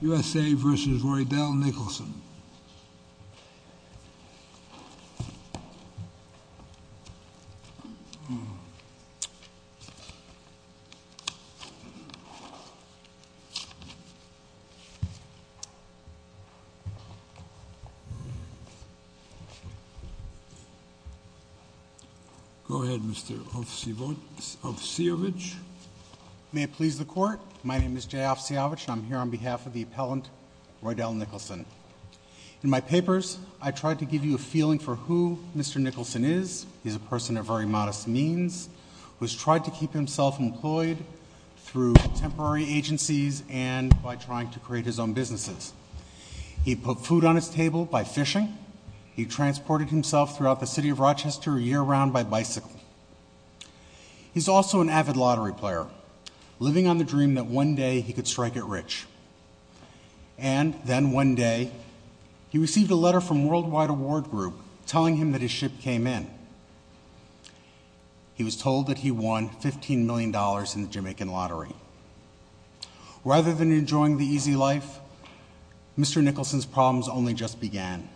USA v. Riedel-Nicholson Go ahead, Mr. Ovseovic My name is Jay Ovseovic, and I'm here on behalf of the appellant, Riedel-Nicholson. In my papers, I tried to give you a feeling for who Mr. Nicholson is. He's a person of very modest means, who has tried to keep himself employed through temporary agencies and by trying to create his own businesses. He put food on his table by fishing. He transported himself throughout the city of Rochester year round by bicycle. He's also an avid lottery player, living on the dream that one day he could strike it rich. And then one day, he received a letter from Worldwide Award Group telling him that his ship came in. He was told that he won $15 million in the Jamaican lottery. Rather than enjoying the easy life, Mr. Nicholson's problems only just began.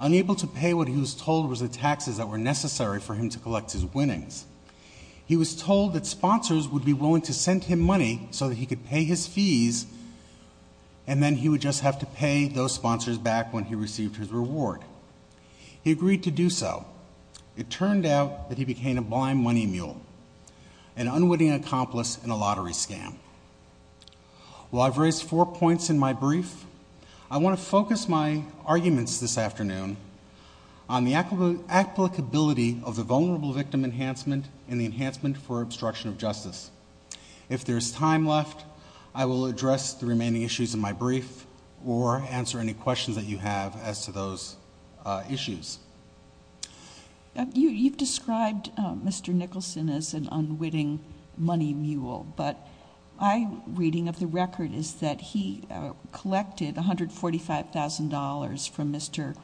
Unable to pay what he was told was the taxes that were necessary for him to collect his winnings, he was told that sponsors would be willing to send him money so that he could pay his fees, and then he would just have to pay those sponsors back when he received his reward. He agreed to do so. It turned out that he became a blind money mule, an unwitting accomplice in a lottery scam. Well, I've raised four points in my brief. I want to focus my arguments this afternoon on the applicability of the vulnerable victim enhancement and the enhancement for obstruction of justice. If there's time left, I will address the remaining issues in my brief or answer any questions that you have as to those issues. You've described Mr. Nicholson as an unwitting money mule, but my reading of the record is that he collected $145,000 from Mr.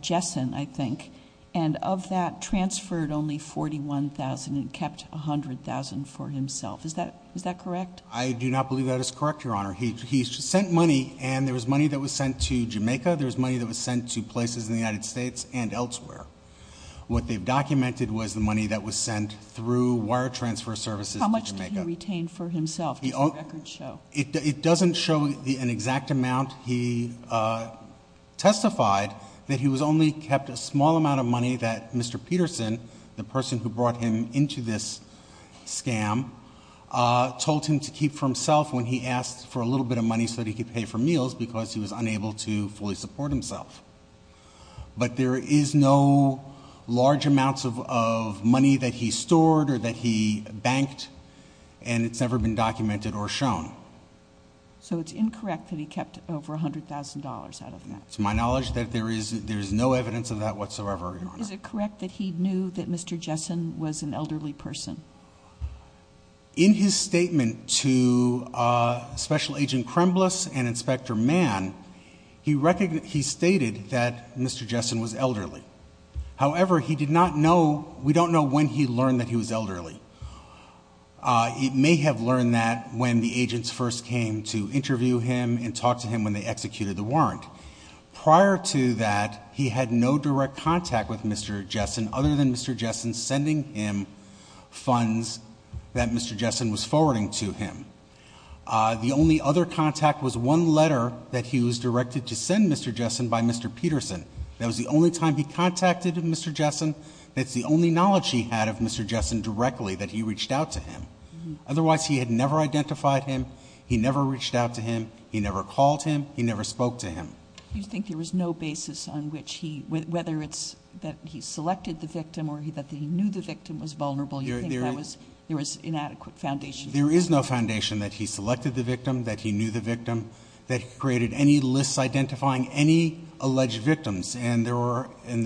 Jessen, I think, and of that transferred only $41,000 and kept $100,000 for himself. Is that correct? I do not believe that is correct, Your Honor. He sent money, and there was money that was sent to Jamaica, there was money that was sent to places in the United States and elsewhere. What they've documented was the money that was sent through wire transfer services to Jamaica. How much did he retain for himself? Does the record show? It doesn't show an exact amount. He testified that he only kept a small amount of money that Mr. Peterson, the person who brought him into this scam, told him to keep for himself when he asked for a little bit of money so that he could pay for meals because he was unable to fully support himself. But there is no large amounts of money that he stored or that he banked, and it's never been documented or shown. So it's incorrect that he kept over $100,000 out of that? To my knowledge, there is no evidence of that whatsoever, Your Honor. Is it correct that he knew that Mr. Jessen was an elderly person? In his statement to Special Agent Krembliss and Inspector Mann, he stated that Mr. Jessen was elderly. However, we don't know when he learned that he was elderly. He may have learned that when the agents first came to interview him and talk to him when they executed the warrant. Prior to that, he had no direct contact with Mr. Jessen other than Mr. Jessen sending him funds that Mr. Jessen was forwarding to him. The only other contact was one letter that he was directed to send Mr. Jessen by Mr. Peterson. That was the only time he contacted Mr. Jessen. That's the only knowledge he had of Mr. Jessen directly that he reached out to him. Otherwise, he had never identified him. He never reached out to him. He never called him. He never spoke to him. Do you think there was no basis on whether it's that he selected the victim or that he knew the victim was vulnerable? Do you think there was inadequate foundation? There is no foundation that he selected the victim, that he knew the victim, that he created any lists identifying any alleged victims. In the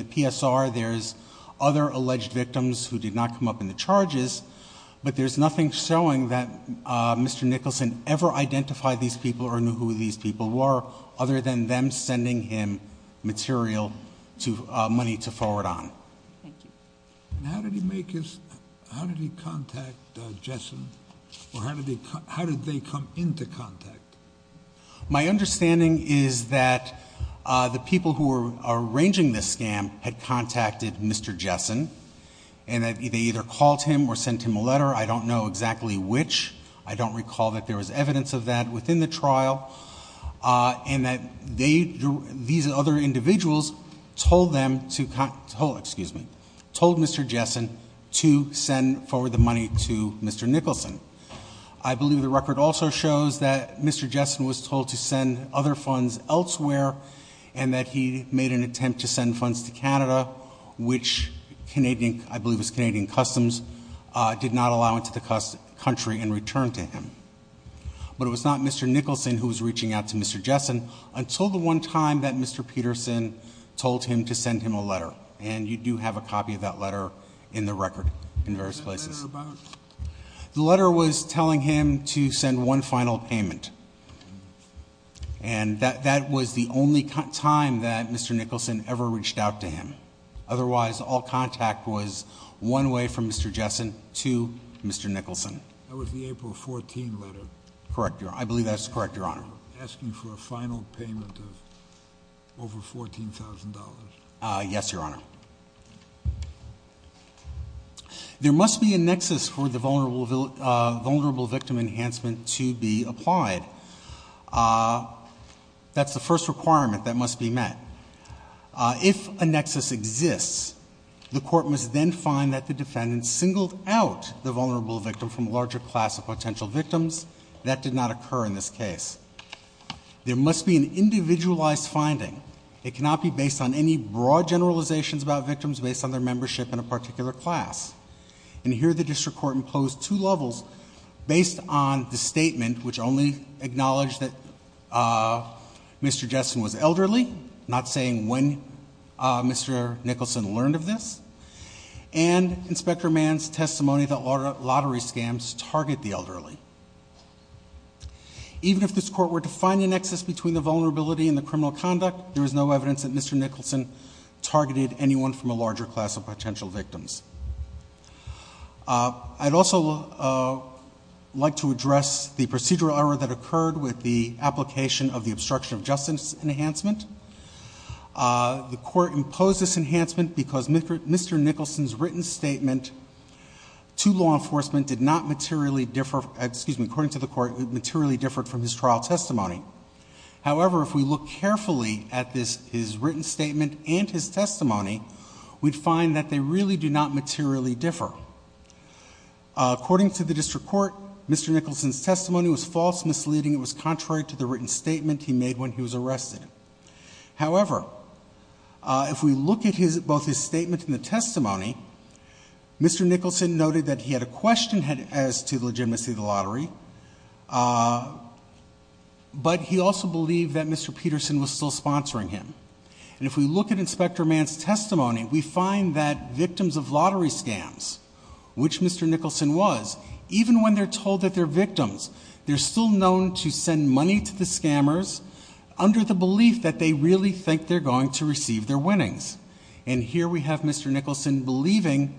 PSR, there's other alleged victims who did not come up in the charges, but there's nothing showing that Mr. Nicholson ever identified these people or knew who these people were other than them sending him material money to forward on. Thank you. How did he contact Jessen, or how did they come into contact? My understanding is that the people who were arranging this scam had contacted Mr. Jessen, and they either called him or sent him a letter. I don't know exactly which. I don't recall that there was evidence of that within the trial, and that these other individuals told Mr. Jessen to send forward the money to Mr. Nicholson. I believe the record also shows that Mr. Jessen was told to send other funds elsewhere and that he made an attempt to send funds to Canada, which I believe was Canadian Customs, did not allow into the country and returned to him. But it was not Mr. Nicholson who was reaching out to Mr. Jessen until the one time that Mr. Peterson told him to send him a letter, and you do have a copy of that letter in the record in various places. What was that letter about? The letter was telling him to send one final payment, and that was the only time that Mr. Nicholson ever reached out to him. Otherwise, all contact was one way from Mr. Jessen to Mr. Nicholson. That was the April 14 letter. Correct, Your Honor. I believe that is correct, Your Honor. Asking for a final payment of over $14,000. Yes, Your Honor. There must be a nexus for the vulnerable victim enhancement to be applied. That's the first requirement that must be met. If a nexus exists, the court must then find that the defendant singled out the vulnerable victim from a larger class of potential victims. That did not occur in this case. There must be an individualized finding. It cannot be based on any broad generalizations about victims based on their membership in a particular class. And here the district court imposed two levels based on the statement, which only acknowledged that Mr. Jessen was elderly, not saying when Mr. Nicholson learned of this, and Inspector Mann's testimony that lottery scams target the elderly. Even if this court were to find a nexus between the vulnerability and the criminal conduct, there is no evidence that Mr. Nicholson targeted anyone from a larger class of potential victims. I'd also like to address the procedural error that occurred with the application of the obstruction of justice enhancement. The court imposed this enhancement because Mr. Nicholson's written statement to law enforcement did not materially differ from his trial testimony. However, if we look carefully at his written statement and his testimony, we'd find that they really do not materially differ. According to the district court, Mr. Nicholson's testimony was false, misleading, and was contrary to the written statement he made when he was arrested. However, if we look at both his statement and the testimony, Mr. Nicholson noted that he had a question as to the legitimacy of the lottery, but he also believed that Mr. Peterson was still sponsoring him. And if we look at Inspector Mann's testimony, we find that victims of lottery scams, which Mr. Nicholson was, even when they're told that they're victims, they're still known to send money to the scammers under the belief that they really think they're going to receive their winnings. And here we have Mr. Nicholson believing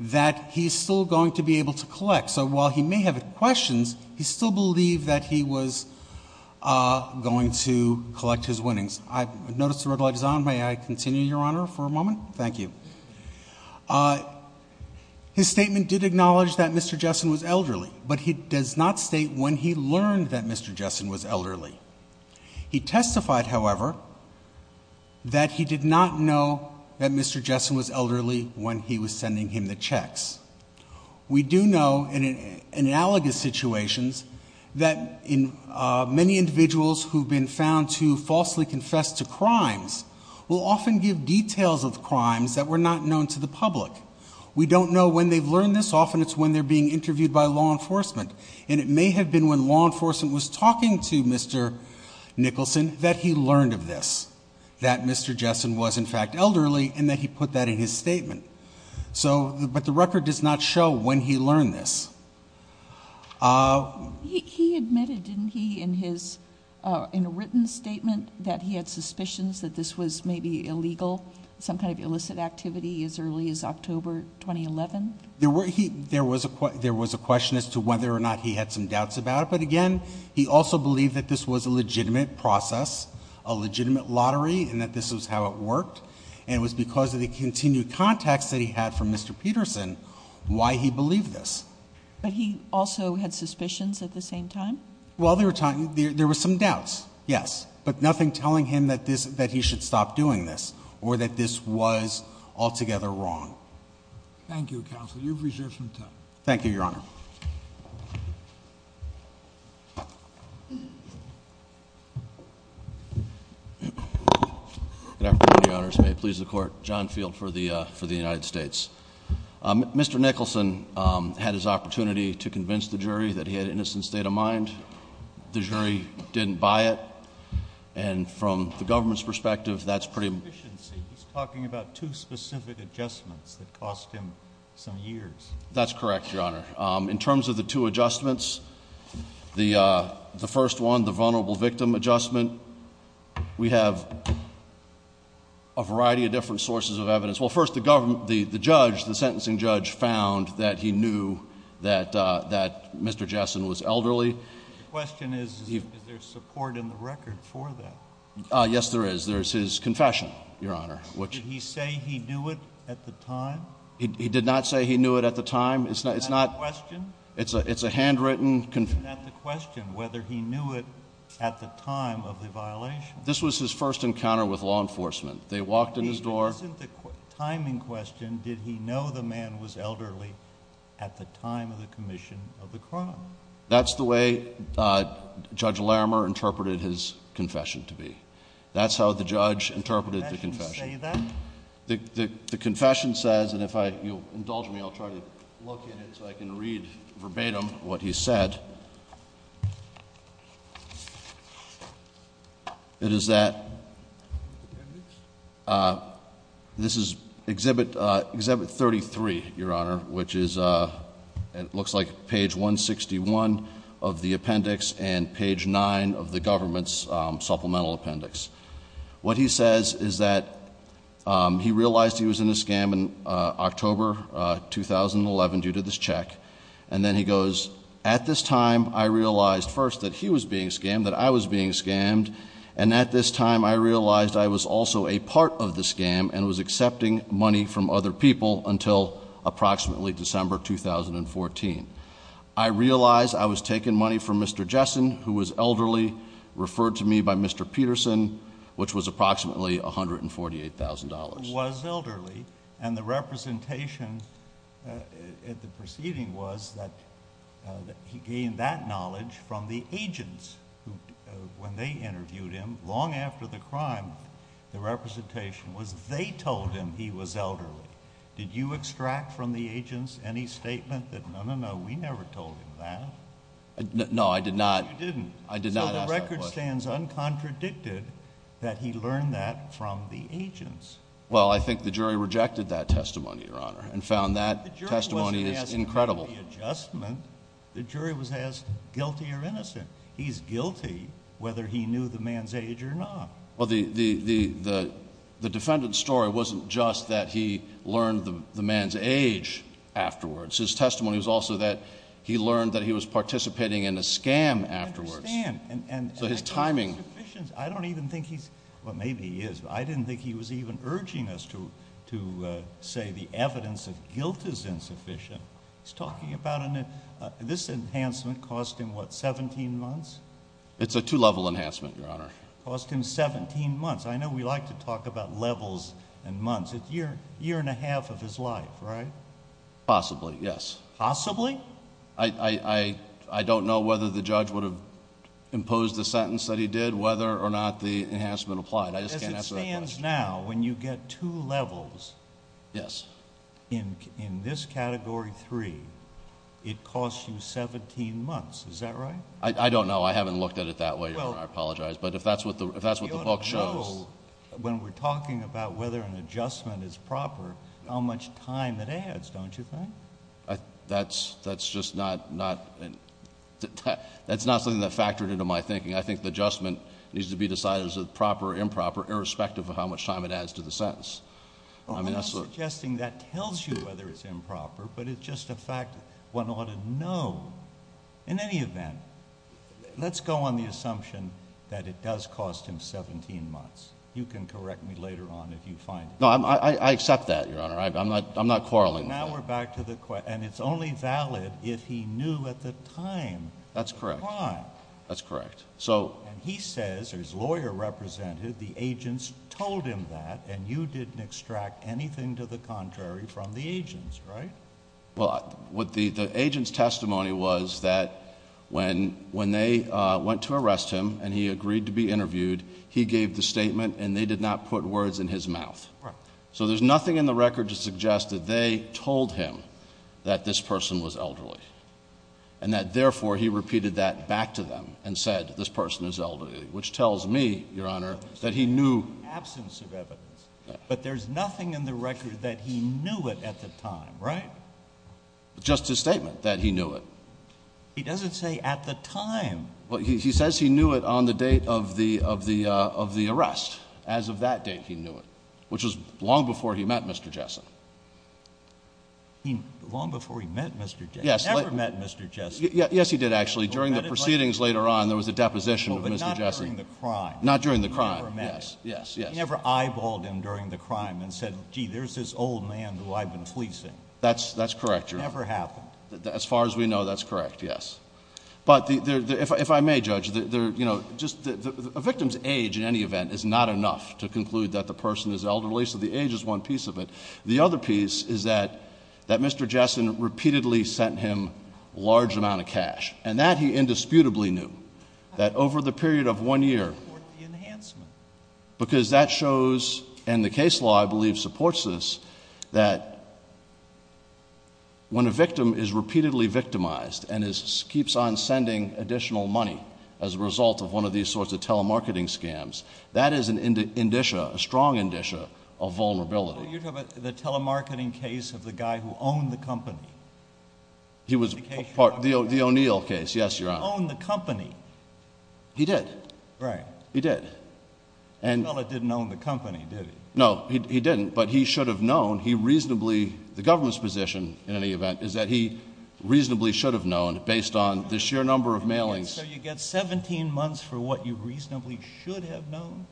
that he's still going to be able to collect. So while he may have questions, he still believed that he was going to collect his winnings. I notice the red light is on. May I continue, Your Honor, for a moment? Thank you. His statement did acknowledge that Mr. Jessen was elderly, but he does not state when he learned that Mr. Jessen was elderly. He testified, however, that he did not know that Mr. Jessen was elderly when he was sending him the checks. We do know, in analogous situations, that many individuals who've been found to falsely confess to crimes will often give details of crimes that were not known to the public. We don't know when they've learned this. Often it's when they're being interviewed by law enforcement, and it may have been when law enforcement was talking to Mr. Nicholson that he learned of this, that Mr. Jessen was, in fact, elderly, and that he put that in his statement. But the record does not show when he learned this. He admitted, didn't he, in a written statement, that he had suspicions that this was maybe illegal, some kind of illicit activity as early as October 2011? There was a question as to whether or not he had some doubts about it, but again, he also believed that this was a legitimate process, a legitimate lottery, and that this was how it worked, and it was because of the continued contacts that he had from Mr. Peterson, why he believed this. But he also had suspicions at the same time? Well, there were some doubts, yes, but nothing telling him that he should stop doing this, or that this was altogether wrong. Thank you, Counsel. You've reserved some time. Thank you, Your Honor. Good afternoon, Your Honors. May it please the Court. John Field for the United States. Mr. Nicholson had his opportunity to convince the jury that he had an innocent state of mind. The jury didn't buy it, and from the government's perspective, that's pretty... He's talking about two specific adjustments that cost him some years. That's correct, Your Honor. In terms of the two adjustments, the first one, the vulnerable victim adjustment, we have a variety of different sources of evidence. Well, first, the judge, the sentencing judge, found that he knew that Mr. Jessen was elderly. The question is, is there support in the record for that? Yes, there is. There is his confession, Your Honor. Did he say he knew it at the time? He did not say he knew it at the time. Is that a question? It's a handwritten confession. Isn't that the question, whether he knew it at the time of the violation? This was his first encounter with law enforcement. They walked in his door. Isn't the timing question, did he know the man was elderly at the time of the commission of the crime? That's the way Judge Larimer interpreted his confession to be. That's how the judge interpreted the confession. Did the confession say that? The confession says, and if you'll indulge me, I'll try to look at it so I can read verbatim what he said. It is that. This is Exhibit 33, Your Honor, which looks like page 161 of the appendix and page 9 of the government's supplemental appendix. What he says is that he realized he was in a scam in October 2011 due to this check, and then he goes, at this time I realized first that he was being scammed, that I was being scammed, and at this time I realized I was also a part of the scam and was accepting money from other people until approximately December 2014. I realized I was taking money from Mr. Jessen, who was elderly, referred to me by Mr. Peterson, which was approximately $148,000. He was elderly, and the representation at the proceeding was that he gained that knowledge from the agents. When they interviewed him long after the crime, the representation was they told him he was elderly. Did you extract from the agents any statement that no, no, no, we never told him that? No, I did not. No, you didn't. I did not ask that question. So the record stands uncontradicted that he learned that from the agents. Well, I think the jury rejected that testimony, Your Honor, and found that testimony is incredible. The jury wasn't asked about the adjustment. The jury was asked guilty or innocent. He's guilty whether he knew the man's age or not. Well, the defendant's story wasn't just that he learned the man's age afterwards. His testimony was also that he learned that he was participating in a scam afterwards. I understand. So his timing. I don't even think he's – well, maybe he is, but I didn't think he was even urging us to say the evidence of guilt is insufficient. He's talking about an – this enhancement cost him, what, 17 months? It's a two-level enhancement, Your Honor. It cost him 17 months. I know we like to talk about levels and months. It's a year and a half of his life, right? Possibly, yes. Possibly? I don't know whether the judge would have imposed the sentence that he did, whether or not the enhancement applied. I just can't answer that question. As it stands now, when you get two levels in this Category 3, it costs you 17 months. Is that right? I don't know. I haven't looked at it that way, Your Honor. I apologize. But if that's what the book shows – You ought to know when we're talking about whether an adjustment is proper how much time it adds, don't you think? That's just not – that's not something that factored into my thinking. I think the adjustment needs to be decided as a proper or improper irrespective of how much time it adds to the sentence. I'm not suggesting that tells you whether it's improper, but it's just a fact one ought to know. In any event, let's go on the assumption that it does cost him 17 months. You can correct me later on if you find it. No, I accept that, Your Honor. I'm not quarreling with that. Now we're back to the – and it's only valid if he knew at the time. That's correct. The time. That's correct. And he says, or his lawyer represented, the agents told him that, and you didn't extract anything to the contrary from the agents, right? Well, what the agents' testimony was that when they went to arrest him and he agreed to be interviewed, he gave the statement and they did not put words in his mouth. Right. So there's nothing in the record to suggest that they told him that this person was elderly and that, therefore, he repeated that back to them and said this person is elderly, which tells me, Your Honor, that he knew. Absence of evidence. But there's nothing in the record that he knew it at the time, right? Just his statement that he knew it. He doesn't say at the time. Well, he says he knew it on the date of the arrest. As of that date, he knew it, which was long before he met Mr. Jessen. Long before he met Mr. Jessen? Yes. He never met Mr. Jessen. Yes, he did, actually. During the proceedings later on, there was a deposition with Mr. Jessen. But not during the crime. Not during the crime. He never met him. He never met him during the crime and said, gee, there's this old man who I've been policing. That's correct, Your Honor. It never happened. As far as we know, that's correct, yes. But if I may, Judge, a victim's age, in any event, is not enough to conclude that the person is elderly, so the age is one piece of it. The other piece is that Mr. Jessen repeatedly sent him a large amount of cash, and that he indisputably knew, that over the period of one year, because that shows, and the case law, I believe, supports this, that when a victim is repeatedly victimized and keeps on sending additional money as a result of one of these sorts of telemarketing scams, that is an indicia, a strong indicia, of vulnerability. You're talking about the telemarketing case of the guy who owned the company? The O'Neill case, yes, Your Honor. He didn't own the company. He did. Right. He did. The fellow didn't own the company, did he? No, he didn't, but he should have known. He reasonably, the government's position, in any event, is that he reasonably should have known, based on the sheer number of mailings. So you get 17 months for what you reasonably should have known?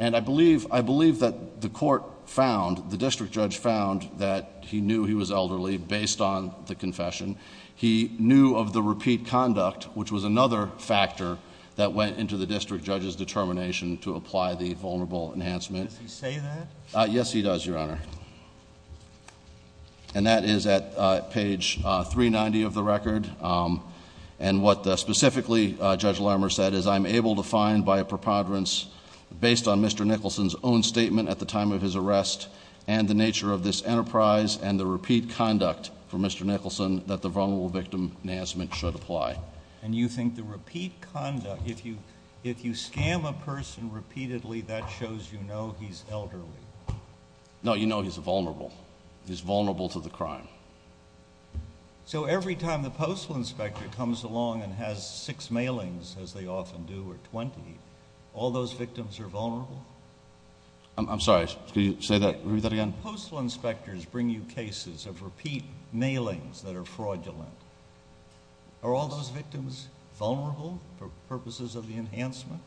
And I believe that the court found, the district judge found, that he knew he was elderly, based on the confession. He knew of the repeat conduct, which was another factor that went into the district judge's determination to apply the vulnerable enhancement. Does he say that? Yes, he does, Your Honor. And that is at page 390 of the record. And what specifically Judge Lamer said is, I'm able to find by a preponderance based on Mr. Nicholson's own statement at the time of his arrest and the nature of this enterprise and the repeat conduct for Mr. Nicholson that the vulnerable victim enhancement should apply. And you think the repeat conduct, if you scam a person repeatedly, that shows you know he's elderly? No, you know he's vulnerable. He's vulnerable to the crime. So every time the postal inspector comes along and has six mailings, as they often do, or 20, all those victims are vulnerable? I'm sorry, could you say that again? Postal inspectors bring you cases of repeat mailings that are fraudulent. Are all those victims vulnerable for purposes of the enhancement?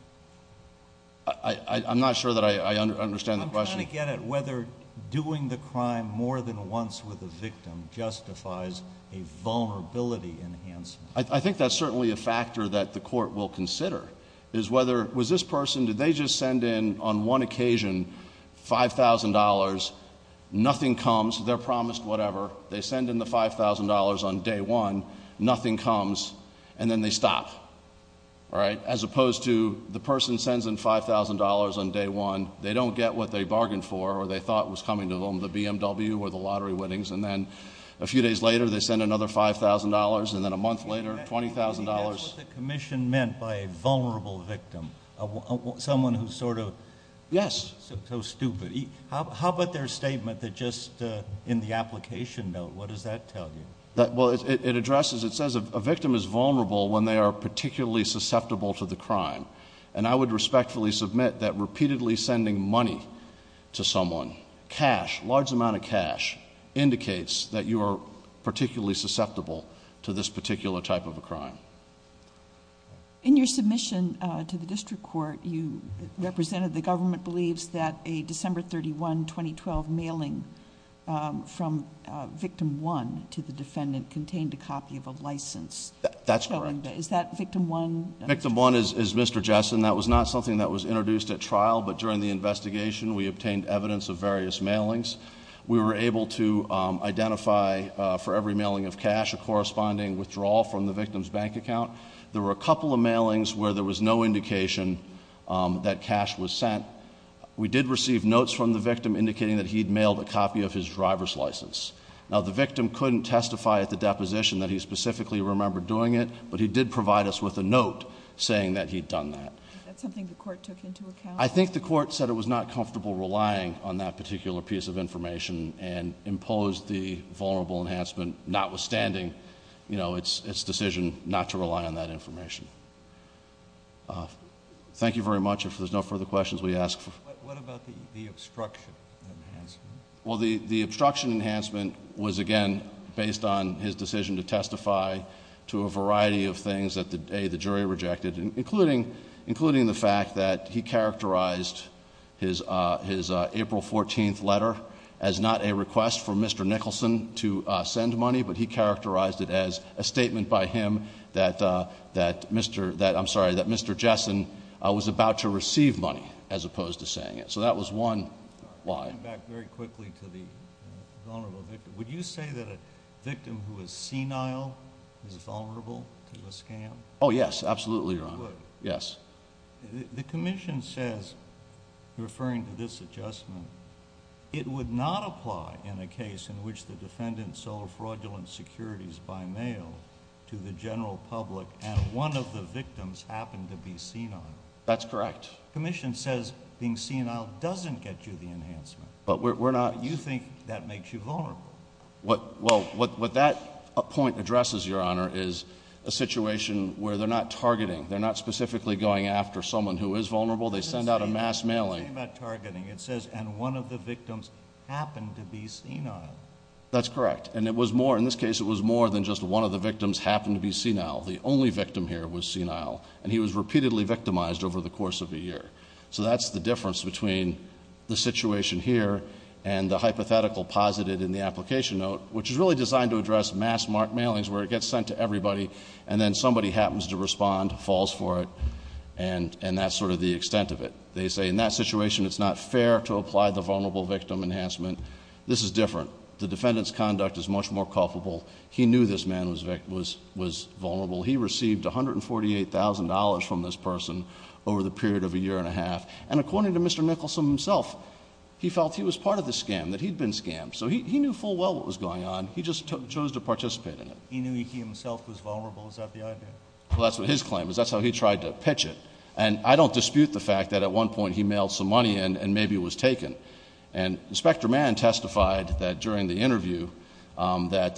I'm not sure that I understand the question. I'm trying to get at whether doing the crime more than once with a victim justifies a vulnerability enhancement. I think that's certainly a factor that the court will consider, is whether was this person, did they just send in on one occasion $5,000, nothing comes, they're promised whatever, they send in the $5,000 on day one, nothing comes, and then they stop. All right? As opposed to the person sends in $5,000 on day one, they don't get what they bargained for or they thought was coming to them, the BMW or the lottery winnings, and then a few days later they send another $5,000, and then a month later $20,000. That's what the commission meant by a vulnerable victim, someone who's sort of- Yes. So stupid. How about their statement that just in the application note, what does that tell you? Well, it addresses, it says a victim is vulnerable when they are particularly susceptible to the crime, and I would respectfully submit that repeatedly sending money to someone, cash, large amount of cash, indicates that you are particularly susceptible to this particular type of a crime. In your submission to the district court, you represented the government believes that a December 31, 2012, mailing from victim one to the defendant contained a copy of a license. That's correct. Is that victim one? Victim one is Mr. Jessen. That was not something that was introduced at trial, but during the investigation we obtained evidence of various mailings. We were able to identify for every mailing of cash a corresponding withdrawal from the victim's bank account. There were a couple of mailings where there was no indication that cash was sent. We did receive notes from the victim indicating that he'd mailed a copy of his driver's license. Now, the victim couldn't testify at the deposition that he specifically remembered doing it, but he did provide us with a note saying that he'd done that. That's something the court took into account? I think the court said it was not comfortable relying on that particular piece of information and imposed the vulnerable enhancement notwithstanding its decision not to rely on that information. Thank you very much. If there's no further questions, we ask for- What about the obstruction enhancement? Well, the obstruction enhancement was, again, based on his decision to testify to a variety of things that the jury rejected, including the fact that he characterized his April 14th letter as not a request for Mr. Nicholson to send money, but he characterized it as a statement by him that Mr. Jessen was about to receive money as opposed to saying it. So that was one lie. Going back very quickly to the vulnerable victim, would you say that a victim who is senile is vulnerable to a scam? Oh, yes. Absolutely, Your Honor. Yes. The commission says, referring to this adjustment, it would not apply in a case in which the defendant sold fraudulent securities by mail to the general public and one of the victims happened to be senile. That's correct. The commission says being senile doesn't get you the enhancement. But we're not- You think that makes you vulnerable. Well, what that point addresses, Your Honor, is a situation where they're not targeting. They're not specifically going after someone who is vulnerable. They send out a mass mailing. It doesn't say anything about targeting. It says, and one of the victims happened to be senile. That's correct. And it was more, in this case, it was more than just one of the victims happened to be senile. The only victim here was senile. And he was repeatedly victimized over the course of a year. So that's the difference between the situation here and the hypothetical posited in the application note, which is really designed to address mass mailings where it gets sent to everybody and then somebody happens to respond, falls for it, and that's sort of the extent of it. They say, in that situation, it's not fair to apply the vulnerable victim enhancement. This is different. The defendant's conduct is much more culpable. He knew this man was vulnerable. He received $148,000 from this person over the period of a year and a half. And according to Mr. Nicholson himself, he felt he was part of the scam, that he'd been scammed. So he knew full well what was going on. He just chose to participate in it. He knew he himself was vulnerable. Is that the idea? Well, that's what his claim is. That's how he tried to pitch it. And I don't dispute the fact that at one point he mailed some money in and maybe it was taken. And Inspector Mann testified that during the interview that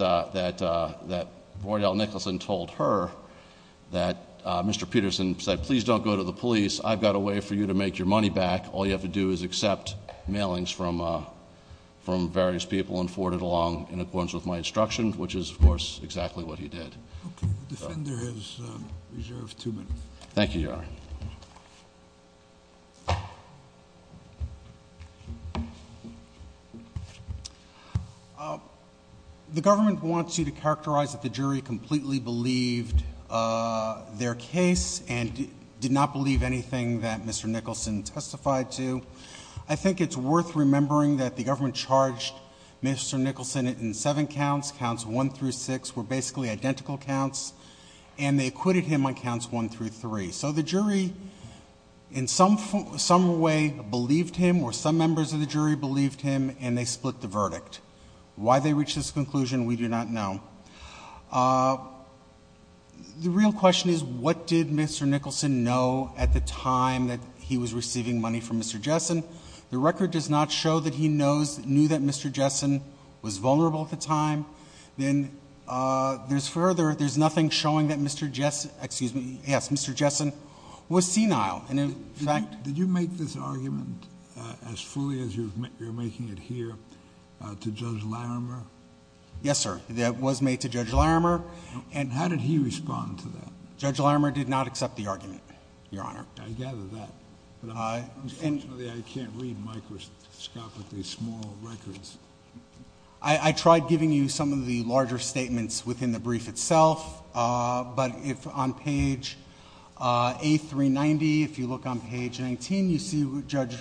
Roydell Nicholson told her that Mr. Peterson said, please don't go to the police. I've got a way for you to make your money back. All you have to do is accept mailings from various people and forward it along in accordance with my instruction, which is, of course, exactly what he did. Okay. The defender has reserved two minutes. Thank you, Your Honor. The government wants you to characterize that the jury completely believed their case and did not believe anything that Mr. Nicholson testified to. I think it's worth remembering that the government charged Mr. Nicholson in seven counts. Counts one through six were basically identical counts, and they acquitted him on counts one through three. So the jury in some way believed him or some members of the jury believed him, and they split the verdict. Why they reached this conclusion, we do not know. The real question is what did Mr. Nicholson know at the time that he was receiving money from Mr. Jessen? The record does not show that he knew that Mr. Jessen was vulnerable at the time. Then there's further, there's nothing showing that Mr. Jessen, excuse me, yes, Mr. Jessen was senile. Did you make this argument as fully as you're making it here to Judge Larimer? Yes, sir. That was made to Judge Larimer. And how did he respond to that? Judge Larimer did not accept the argument, Your Honor. I gather that. Unfortunately, I can't read microscopically small records. I tried giving you some of the larger statements within the brief itself, but if on page A390, if you look on page 19, you see Judge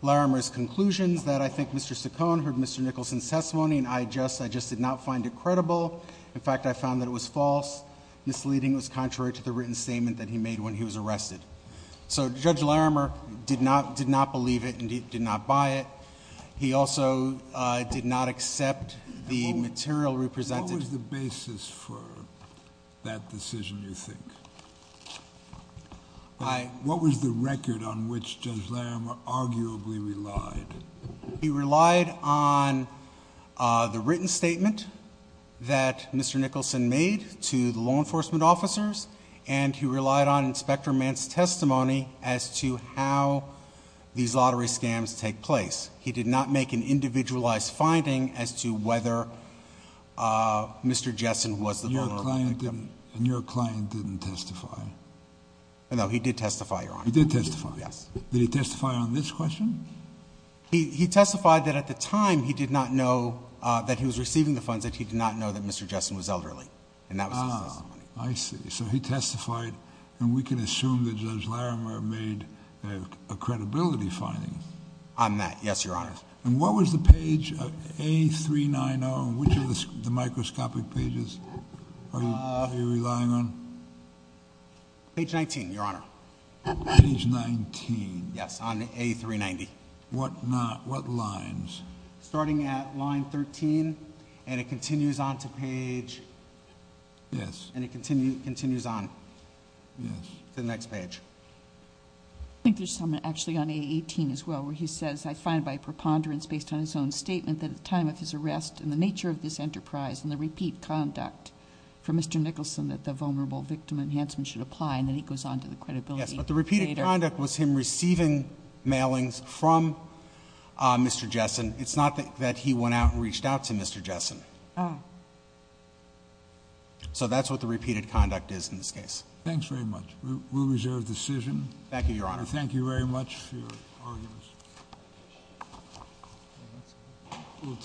Larimer's conclusions that I think Mr. Saccone heard Mr. Nicholson's testimony, and I just did not find it credible. In fact, I found that it was false. Misleading was contrary to the written statement that he made when he was arrested. So Judge Larimer did not believe it and did not buy it. He also did not accept the material represented. What was the basis for that decision, you think? What was the record on which Judge Larimer arguably relied? He relied on the written statement that Mr. Nicholson made to the law enforcement officers, and he relied on Inspector Mantz's testimony as to how these lottery scams take place. He did not make an individualized finding as to whether Mr. Jessen was the vulnerable victim. And your client didn't testify? No, he did testify, Your Honor. He did testify? Yes. Did he testify on this question? He testified that at the time he did not know that he was receiving the funds, that he did not know that Mr. Jessen was elderly, and that was his testimony. I see. So he testified, and we can assume that Judge Larimer made a credibility finding. On that, yes, Your Honor. And what was the page, A390, and which of the microscopic pages are you relying on? Page 19, Your Honor. Page 19. Yes, on A390. What lines? Starting at line 13, and it continues on to page... Yes. And it continues on to the next page. I think there's some actually on A18 as well where he says, I find by preponderance based on his own statement that at the time of his arrest and the nature of this enterprise and the repeat conduct for Mr. Nicholson that the vulnerable victim enhancement should apply, and then he goes on to the credibility. Yes, but the repeated conduct was him receiving mailings from Mr. Jessen. It's not that he went out and reached out to Mr. Jessen. Ah. So that's what the repeated conduct is in this case. Thanks very much. We'll reserve the decision. Thank you, Your Honor. Thank you very much for your arguments.